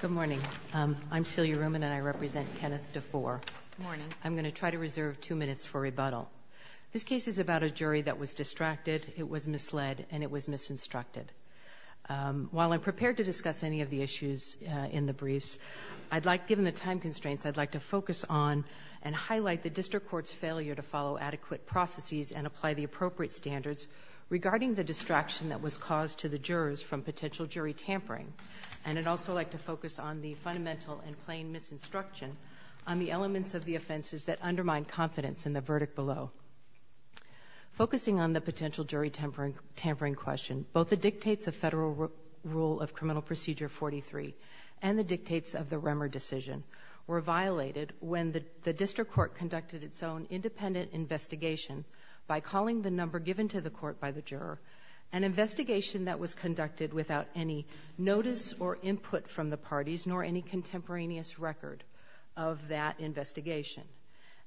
Good morning. I'm Celia Ruman, and I represent Kenneth Defoor. Good morning. I'm going to try to reserve two minutes for rebuttal. This case is about a jury that was distracted, it was misled, and it was misinstructed. While I'm prepared to discuss any of the issues in the briefs, given the time constraints, I'd like to focus on and highlight the District Court's failure to follow adequate processes and apply the appropriate standards regarding the distraction that was caused to the jurors from potential jury tampering. And I'd also like to focus on the fundamental and plain misinstruction on the elements of the offenses that undermine confidence in the verdict below. Focusing on the potential jury tampering question, both the dictates of Federal Rule of Criminal Procedure 43 and the dictates of the Remmer decision were violated when the District Court conducted its own independent investigation by calling the number given to the court by the juror, an investigation that was conducted without any notice or input from the parties, nor any contemporaneous record of that investigation.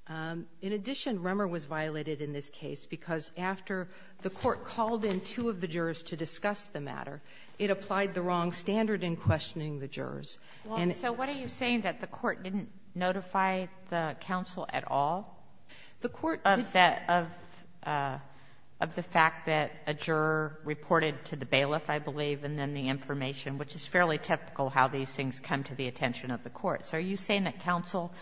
In addition, Remmer was violated in this case because after the court called in two of the jurors to discuss the matter, it applied the wrong standard in questioning the jurors. Well, so what are you saying, that the court didn't notify the counsel at all of the fact that a juror reported to the bailiff, I believe, and then the information, which is fairly typical how these things come to the attention of the court? So are you saying that counsel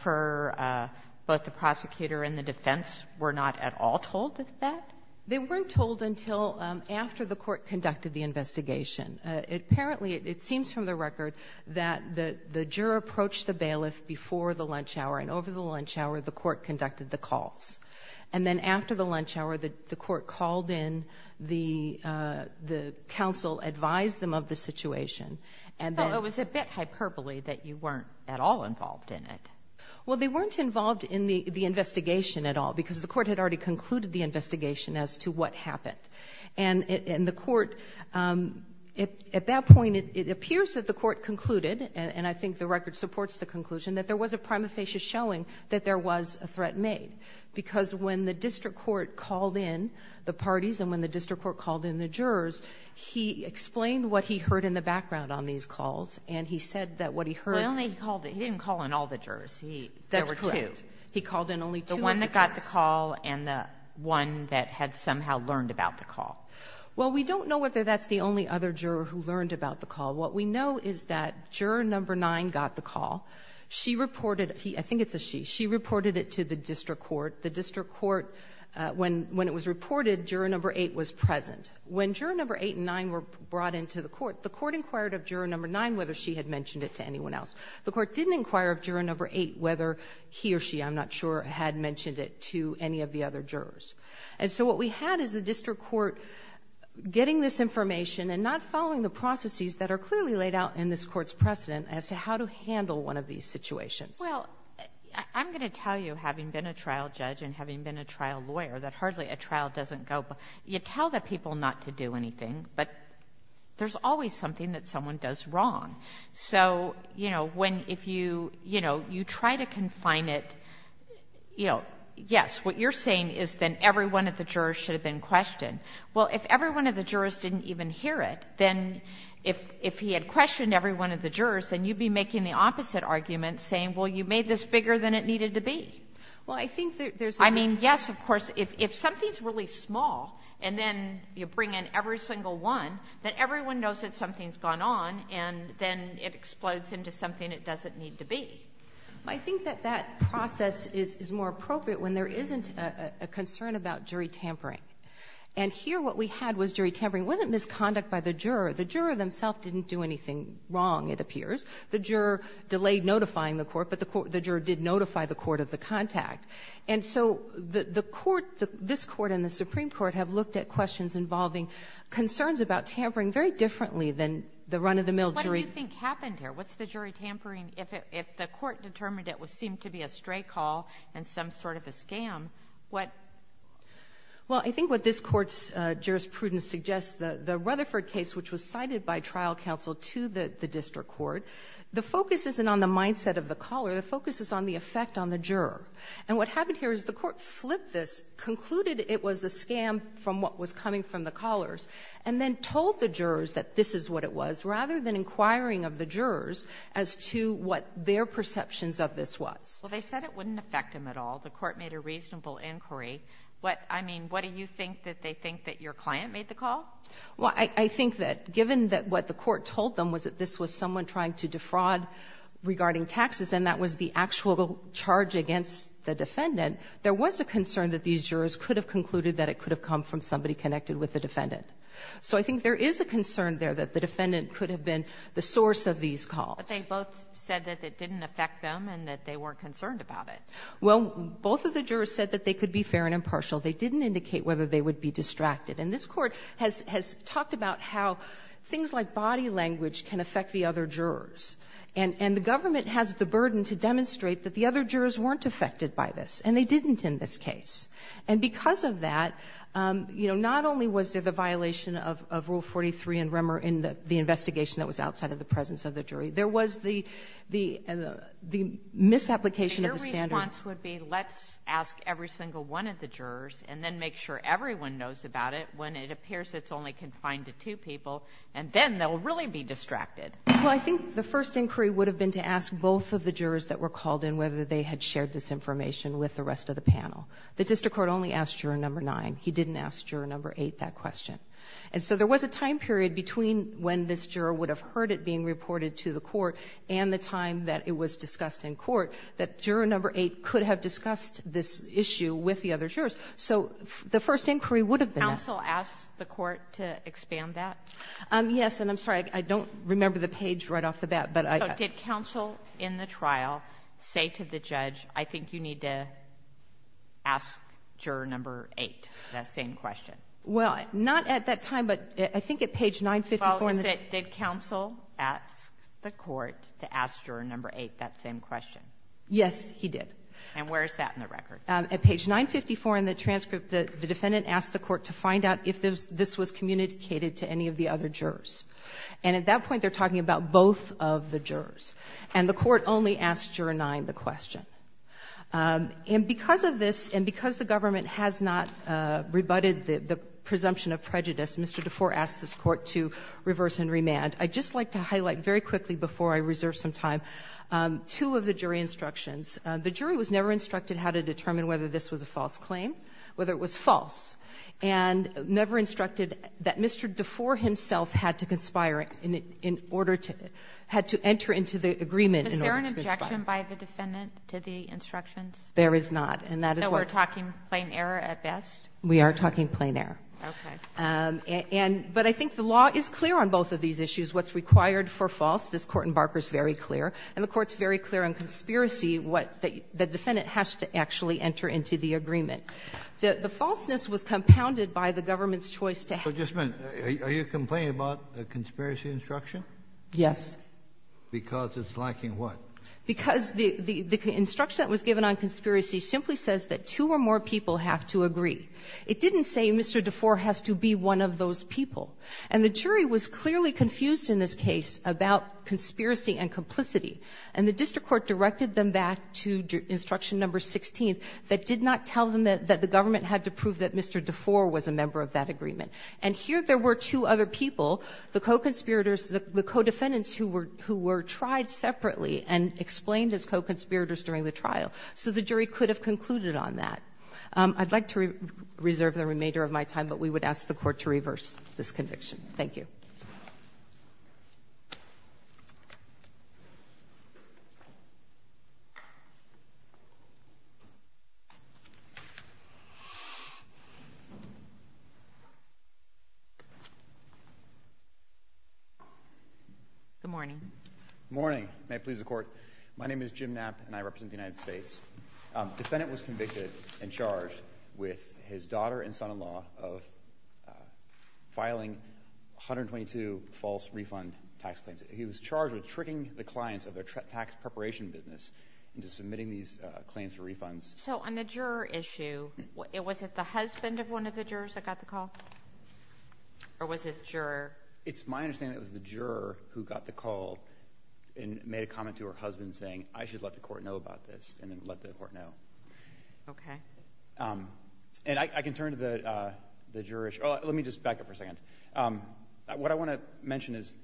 for both the prosecutor and the defense were not at all told of that? They weren't told until after the court conducted the investigation. Apparently, it seems from the record that the juror approached the bailiff before the lunch hour, and over the lunch hour, the court conducted the calls. And then after the lunch hour, the court called in, the counsel advised them of the situation, and then— But it was a bit hyperbole that you weren't at all involved in it. Well, they weren't involved in the investigation at all because the court had already concluded the investigation as to what happened. And the court, at that point, it appears that the court concluded, and I think the record supports the conclusion, that there was a threat made. Because when the district court called in the parties, and when the district court called in the jurors, he explained what he heard in the background on these calls, and he said that what he heard— Well, he didn't call in all the jurors. There were two. He called in only two of the jurors. The one that got the call and the one that had somehow learned about the call. Well, we don't know whether that's the only other juror who learned about the call. What we know is that juror number nine got the call. She reported—I think it's a she. She reported it to the district court. The district court, when it was reported, juror number eight was present. When juror number eight and nine were brought into the court, the court inquired of juror number nine whether she had mentioned it to anyone else. The court didn't inquire of juror number eight whether he or she, I'm not sure, had mentioned it to any of the other jurors. And so what we had is the district court getting this information and not following the processes that are clearly laid out in this Court's precedent as to how to handle one of these situations. Well, I'm going to tell you, having been a trial judge and having been a trial lawyer, that hardly a trial doesn't go—you tell the people not to do anything, but there's always something that someone does wrong. So, you know, when if you, you know, you try to confine it, you know, yes, what you're saying is then every one of the jurors should have been questioned. Well, if every one of the jurors didn't even hear it, then if he had questioned every one of the jurors, then you'd be making the opposite argument, saying, well, you made this bigger than it needed to be. Well, I think that there's— I mean, yes, of course. If something's really small and then you bring in every single one, then everyone knows that something's gone on, and then it explodes into something it doesn't need to be. I think that that process is more appropriate when there isn't a concern about jury tampering. And here what we had was jury tampering. It wasn't misconduct by the juror. The juror themself didn't do anything wrong, it appears. The juror delayed notifying the court, but the court—the juror did notify the court of the contact. And so the court—this court and the Supreme Court have looked at questions involving concerns about tampering very differently than the run-of-the-mill jury— What do you think happened here? What's the jury tampering if it—if the court determined it would seem to be a stray call and some sort of a scam? What— Well, I think what this Court's jurisprudence suggests, the—the Rutherford case, which was cited by trial counsel to the—the district court, the focus isn't on the mindset of the caller. The focus is on the effect on the juror. And what happened here is the court flipped this, concluded it was a scam from what was coming from the callers, and then told the jurors that this is what it was rather than inquiring of the jurors as to what their perceptions of this was. Well, they said it wouldn't affect them at all. The court made a reasonable inquiry. What—I mean, what do you think, that they think that your client made the call? Well, I—I think that given that what the court told them was that this was someone trying to defraud regarding taxes, and that was the actual charge against the defendant, there was a concern that these jurors could have concluded that it could have come from somebody connected with the defendant. So I think there is a concern there that the defendant could have been the source of these calls. Well, they both said that it didn't affect them and that they weren't concerned about it. Well, both of the jurors said that they could be fair and impartial. They didn't indicate whether they would be distracted. And this court has—has talked about how things like body language can affect the other jurors. And—and the government has the burden to demonstrate that the other jurors weren't affected by this, and they didn't in this case. And because of that, you know, not only was there the violation of—of Rule 43 in the investigation that was outside of the presence of the jury, there was the—the misapplication of the standard. Your response would be let's ask every single one of the jurors and then make sure everyone knows about it when it appears it's only confined to two people, and then they'll really be distracted. Well, I think the first inquiry would have been to ask both of the jurors that were called in whether they had shared this information with the rest of the panel. The district court only asked Juror No. 9. He didn't ask Juror No. 8 that question. And so there was a time period between when this juror would have heard it being reported to the court and the time that it was discussed in court that Juror No. 8 could have discussed this issue with the other jurors. So the first inquiry would have been— Counsel asked the court to expand that? Yes. And I'm sorry, I don't remember the page right off the bat, but I— But did counsel in the trial say to the judge, I think you need to ask Juror No. 8 that same question? Well, not at that time, but I think at page 954— Follows it, did counsel ask the court to ask Juror No. 8 that same question? Yes, he did. And where is that in the record? At page 954 in the transcript, the defendant asked the court to find out if this was communicated to any of the other jurors. And at that point, they're talking about both of the jurors. And the court only asked Juror No. 9 the question. And because of this, and because the government has not rebutted the presumption of prejudice, Mr. DeFore asked this court to reverse and remand. I'd just like to highlight very quickly before I reserve some time, two of the jury instructions. The jury was never instructed how to determine whether this was a false claim, whether it was false, and never instructed that Mr. DeFore himself had to conspire in order to—had to enter into the agreement in order to conspire. Is there an objection by the defendant to the instructions? There is not. And that is what— Are we talking plain error at best? We are talking plain error. Okay. And — but I think the law is clear on both of these issues. What's required for false, this Court in Barker is very clear. And the Court's very clear on conspiracy, what the defendant has to actually enter into the agreement. The falseness was compounded by the government's choice to have— So just a minute. Are you complaining about the conspiracy instruction? Yes. Because it's lacking what? Because the instruction that was given on conspiracy simply says that two or more people have to agree. It didn't say Mr. DeFore has to be one of those people. And the jury was clearly confused in this case about conspiracy and complicity. And the district court directed them back to instruction number 16 that did not tell them that the government had to prove that Mr. DeFore was a member of that agreement. And here there were two other people, the co-conspirators, the co-defendants, who were tried separately and explained as co-conspirators during the trial. So the jury could have concluded on that. I'd like to reserve the remainder of my time, but we would ask the Court to reverse this conviction. Thank you. Good morning. Good morning. May it please the Court. My name is Jim Knapp, and I represent the United States Department of Justice. The defendant was convicted and charged with his daughter and son-in-law of filing 122 false refund tax claims. He was charged with tricking the clients of their tax preparation business into submitting these claims for refunds. So on the juror issue, was it the husband of one of the jurors that got the call? Or was it the juror? It's my understanding it was the juror who got the call and made a comment to her husband saying, I should let the Court know about this, and then let the Court know. Okay. And I can turn to the juror issue. Oh, let me just back up for a second. What I want to mention is,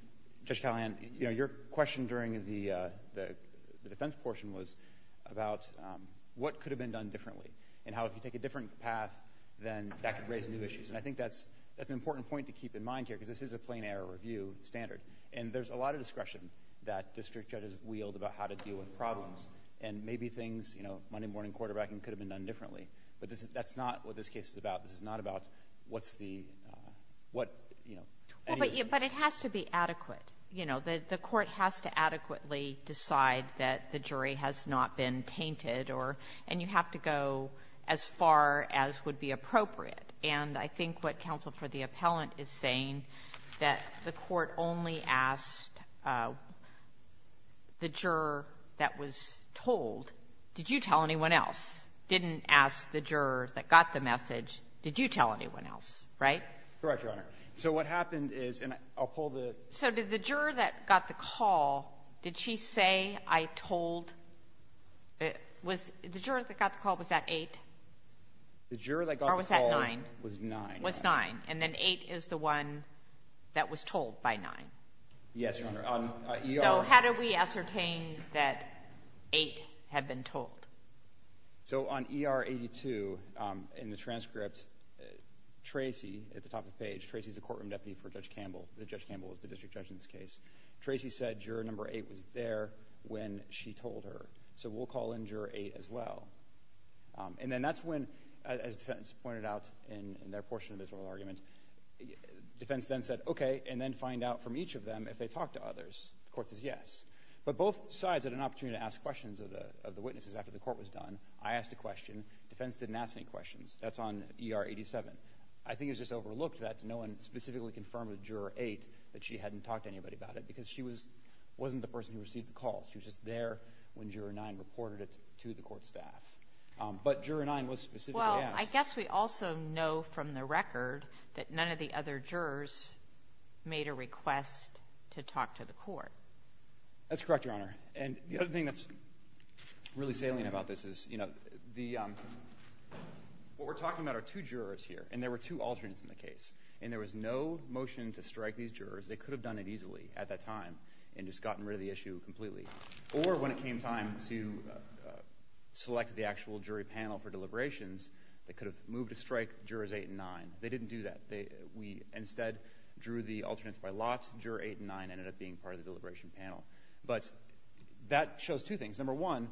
Judge Callahan, you know, your question during the defense portion was about what could have been done differently, and how if you take a different path, then that could raise new issues. And I think that's an important point to keep in mind here, because this is a plain error review standard. And there's a lot of discretion that district courts have to deal with problems. And maybe things, you know, Monday morning quarterbacking could have been done differently. But that's not what this case is about. This is not about what's the, what, you know. But it has to be adequate. You know, the Court has to adequately decide that the jury has not been tainted, or, and you have to go as far as would be appropriate. And I think what happened is, and I'll pull the... So did the juror that got the call, did she say, I told, was, the juror that got the call, was that 8? The juror that got the call... Or was that 9? ...was 9. Was 9. And then 8 is the one that was told by 9. How can we ascertain that 8 had been told? So on ER 82, in the transcript, Tracy, at the top of the page, Tracy's the courtroom deputy for Judge Campbell. Judge Campbell is the district judge in this case. Tracy said juror number 8 was there when she told her. So we'll call in juror 8 as well. And then that's when, as defense pointed out in their portion of this oral argument, defense then said, okay, and then find out from each of them if they talked to others. Court says yes. But both sides had an opportunity to ask questions of the witnesses after the court was done. I asked a question. Defense didn't ask any questions. That's on ER 87. I think it was just overlooked that no one specifically confirmed with juror 8 that she hadn't talked to anybody about it, because she was, wasn't the person who received the call. She was just there when juror 9 reported it to the court staff. But juror 9 was specifically asked. I guess we also know from the record that none of the other jurors made a request to talk to the court. That's correct, Your Honor. And the other thing that's really salient about this is, you know, the, what we're talking about are two jurors here, and there were two alternates in the case. And there was no motion to strike these jurors. They could have done it easily at that time and just gotten rid of the issue completely. Or when it came time to select the actual jury panel for deliberations, they could have moved to strike jurors 8 and 9. They didn't do that. We instead drew the alternates by lots. Juror 8 and 9 ended up being part of the deliberation panel. But that shows two things. Number one,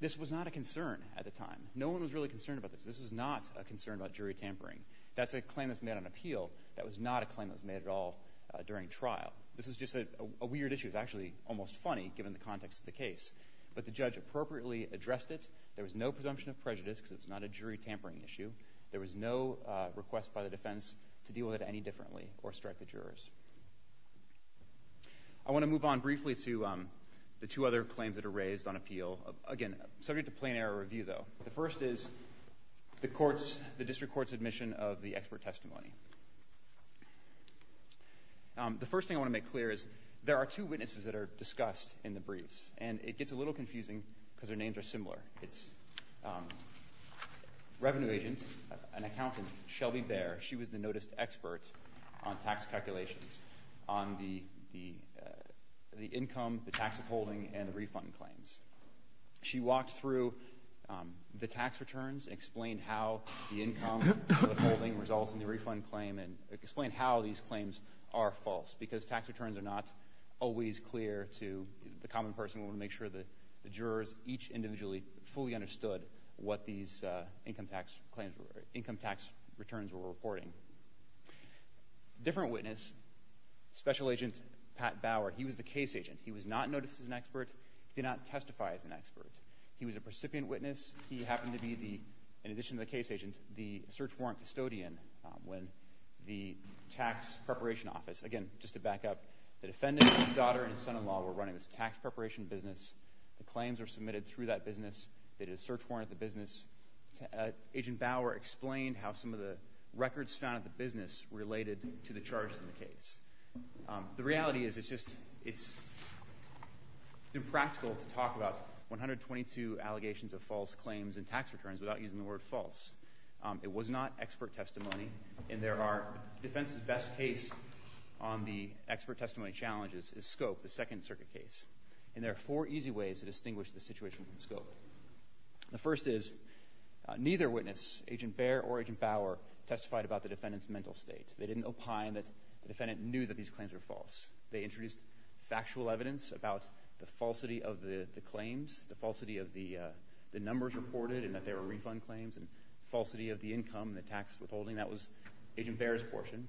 this was not a concern at the time. No one was really concerned about this. This was not a concern about jury tampering. That's a claim that's made on appeal. That was not a claim that was made at all during trial. This was just a weird issue. It was actually almost funny, given the context of the case. But the judge appropriately addressed it. There was no presumption of prejudice, because it's not a jury tampering issue. There was no request by the defense to deal with it any differently or strike the jurors. I want to move on briefly to the two other claims that are raised on appeal. Again, subject to plain error review, though. The first is the court's, the district court's admission of the expert testimony. The first thing I want to make clear is there are two witnesses that are discussed in the briefs. And it gets a little confusing, because their names are similar. It's revenue agent, an accountant, Shelby Bear. She was the noticed expert on tax calculations on the income, the tax withholding, and the refund claims. She walked through the tax returns, explained how the income withholding results in the refund claim, and explained how these claims are false, because tax returns are not always clear to the common person. We want to make sure that the jurors, each individually, fully understood what these income tax claims, income tax returns were reporting. Different witness, special agent Pat Bauer. He was the case agent. He was not noticed as an expert, did not testify as an expert. He was a recipient witness. He happened to be the, in addition to the case agent, the search warrant custodian when the tax preparation office, again, just to back up, the defendant, his daughter, and his son-in-law were running this tax preparation business. The claims were submitted through that business. They did a search warrant at the business. Agent Bauer explained how some of the records found at the business related to the charges in the case. The reality is it's just, it's impractical to talk about 122 allegations of false claims and tax returns without using the word false. It was not expert testimony, and there are, defense's best case on the expert testimony challenges is Scope, the second circuit case. And there are four easy ways to distinguish the situation from Scope. The first is, neither witness, agent Baer or agent Bauer, testified about the defendant's mental state. They didn't opine that the defendant knew that these claims were false. They introduced factual evidence about the falsity of the claims, the falsity of the numbers reported and that they were refund claims, and falsity of the income, the tax withholding. That was agent Baer's portion.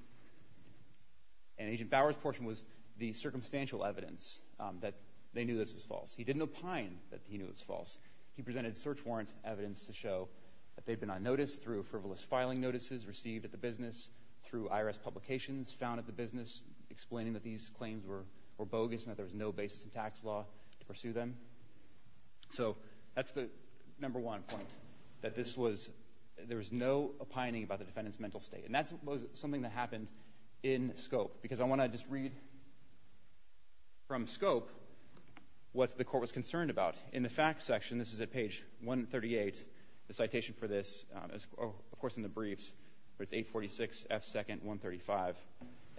And agent Bauer's portion was the circumstantial evidence that they knew this was false. He didn't opine that he knew it was false. He presented search warrant evidence to show that they'd been on notice through frivolous filing notices received at the business, through IRS publications found at the business, explaining that these claims were bogus and that there was no basis in tax law to pursue them. So, that's the number one point, that this was, there was no opining about the defendant's mental state. And that's something that happened in Scope, because I want to just read from Scope what the court was concerned about. In the facts section, this is at page 138, the citation for this, of course in the briefs, but it's 846F2nd135.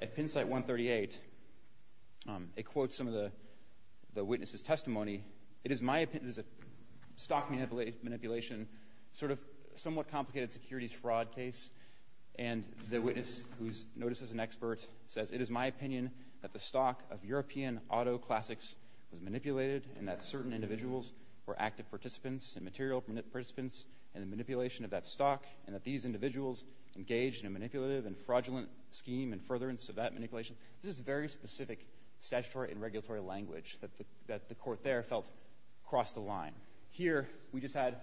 At pin site 138, it quotes some of the witness' testimony, it is my opinion, this is a stock manipulation, sort of, somewhat complicated securities fraud case, and the witness, who's noticed as an expert, says, it is my opinion that the stock of European auto classics was manipulated and that certain individuals were active participants and material participants in the manipulation of that stock, and that these individuals engaged in a manipulative and fraudulent scheme and furtherance of that manipulation. This is very specific statutory and regulatory language that the court there felt crossed the line. Here, we just had...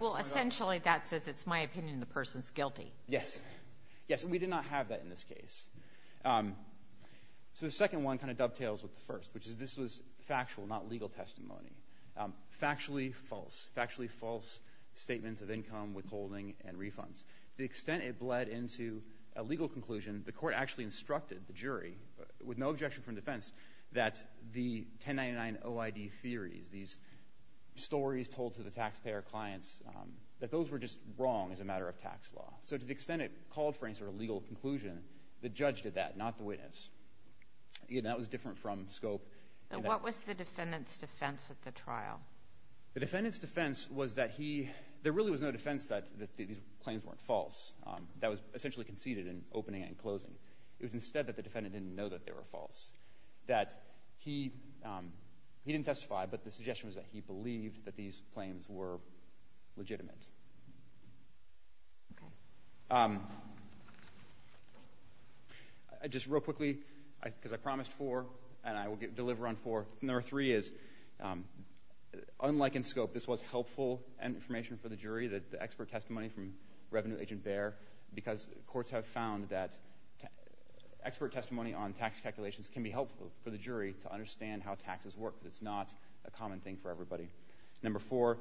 Well, essentially, that says it's my opinion the person's guilty. Yes. Yes, and we did not have that in this case. So, the second one kind of dovetails with the first, which is this was factual, not legal testimony. Factually false. Factually false statements of income, withholding, and refunds. The extent it bled into a legal conclusion, the court actually instructed the jury, with no objection from defense, that the 1099OID theories, these stories told to the taxpayer clients, that those were just wrong as a matter of tax law. So, to the extent it called for any sort of legal conclusion, the judge did that, not the witness. Again, that was different from scope. What was the defendant's defense at the trial? The defendant's defense was that he... There really was no defense that these claims weren't false. That was essentially conceded in opening and closing. It was instead that the defendant didn't know that they were false. That he didn't testify, but the suggestion was that he believed that these claims were legitimate. Just real quickly, because I promised four, and I will deliver on four. Number three is, unlike in scope, this was helpful information for the jury, the expert testimony from Revenue Agent Baer, because courts have found that expert testimony on tax calculations can be Number four,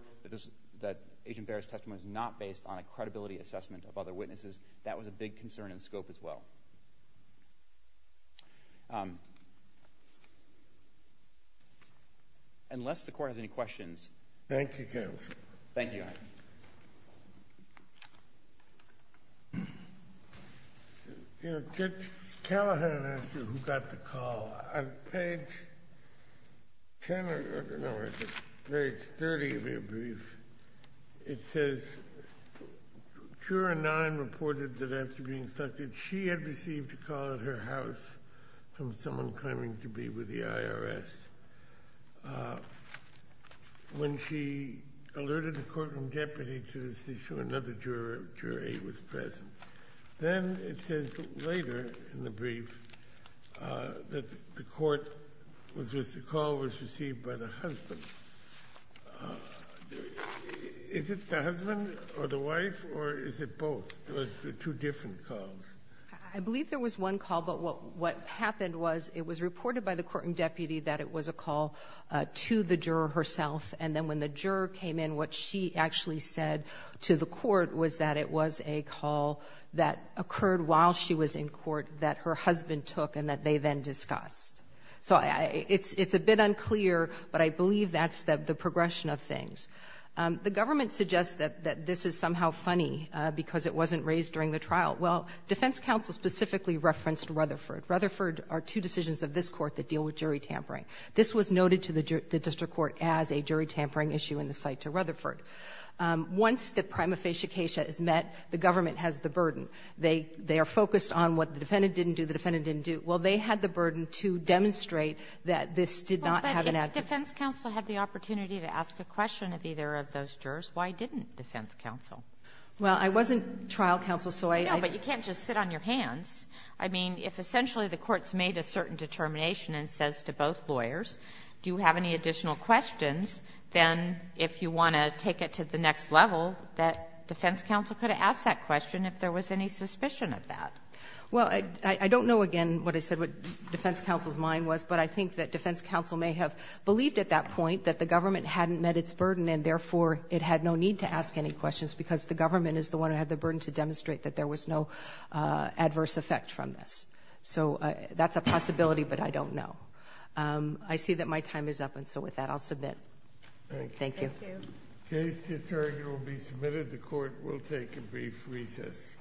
that Agent Baer's testimony is not based on a credibility assessment of other witnesses. That was a big concern in scope as well. Unless the court has any questions... Thank you, Counsel. Thank you, Your Honor. Judge Callahan asked you who got the call. On page 10 or, I don't know, page 30 of your brief, it says, Cura 9 reported that after being sucted, she had received a call at her house from someone claiming to be with the IRS. When she alerted the courtroom deputy to this issue, another juror, Cura 8, was present. Then it says later in the brief that the court was just, the call was received by the husband. Is it the husband or the wife, or is it both? It was two different calls. I believe there was one call, but what happened was it was reported by the court and deputy that it was a call to the juror herself, and then when the juror came in, what she actually said to the court was that it was a call that occurred while she was in court that her husband took and that they then discussed. So it's a bit unclear, but I believe that's the progression of things. The government suggests that this is somehow funny because it wasn't raised during the trial. Well, defense counsel specifically referenced Rutherford. Rutherford are two decisions of this court that deal with jury tampering. This was noted to the district court as a jury tampering issue in the cite to Rutherford. Once the prima facie case is met, the government has the burden. They are focused on what the defendant didn't do, the defendant didn't do. Well, they had the burden to demonstrate that this did not have an active. But if defense counsel had the opportunity to ask a question of either of those jurors, why didn't defense counsel? Well, I wasn't trial counsel, so I don't know. But you can't just sit on your hands. I mean, if essentially the court's made a certain determination and says to both lawyers, do you have any additional questions, then if you want to take it to the next level, that defense counsel could have asked that question if there was any suspicion of that. Well, I don't know, again, what I said, what defense counsel's mind was, but I think that defense counsel may have believed at that point that the government hadn't met its burden and, therefore, it had no need to ask any questions because the government is the one who had the burden to demonstrate that there was no adverse effect from this. So that's a possibility, but I don't know. I see that my time is up, and so with that, I'll submit. Thank you. Thank you. The case is heard and will be submitted. The court will take a brief recess.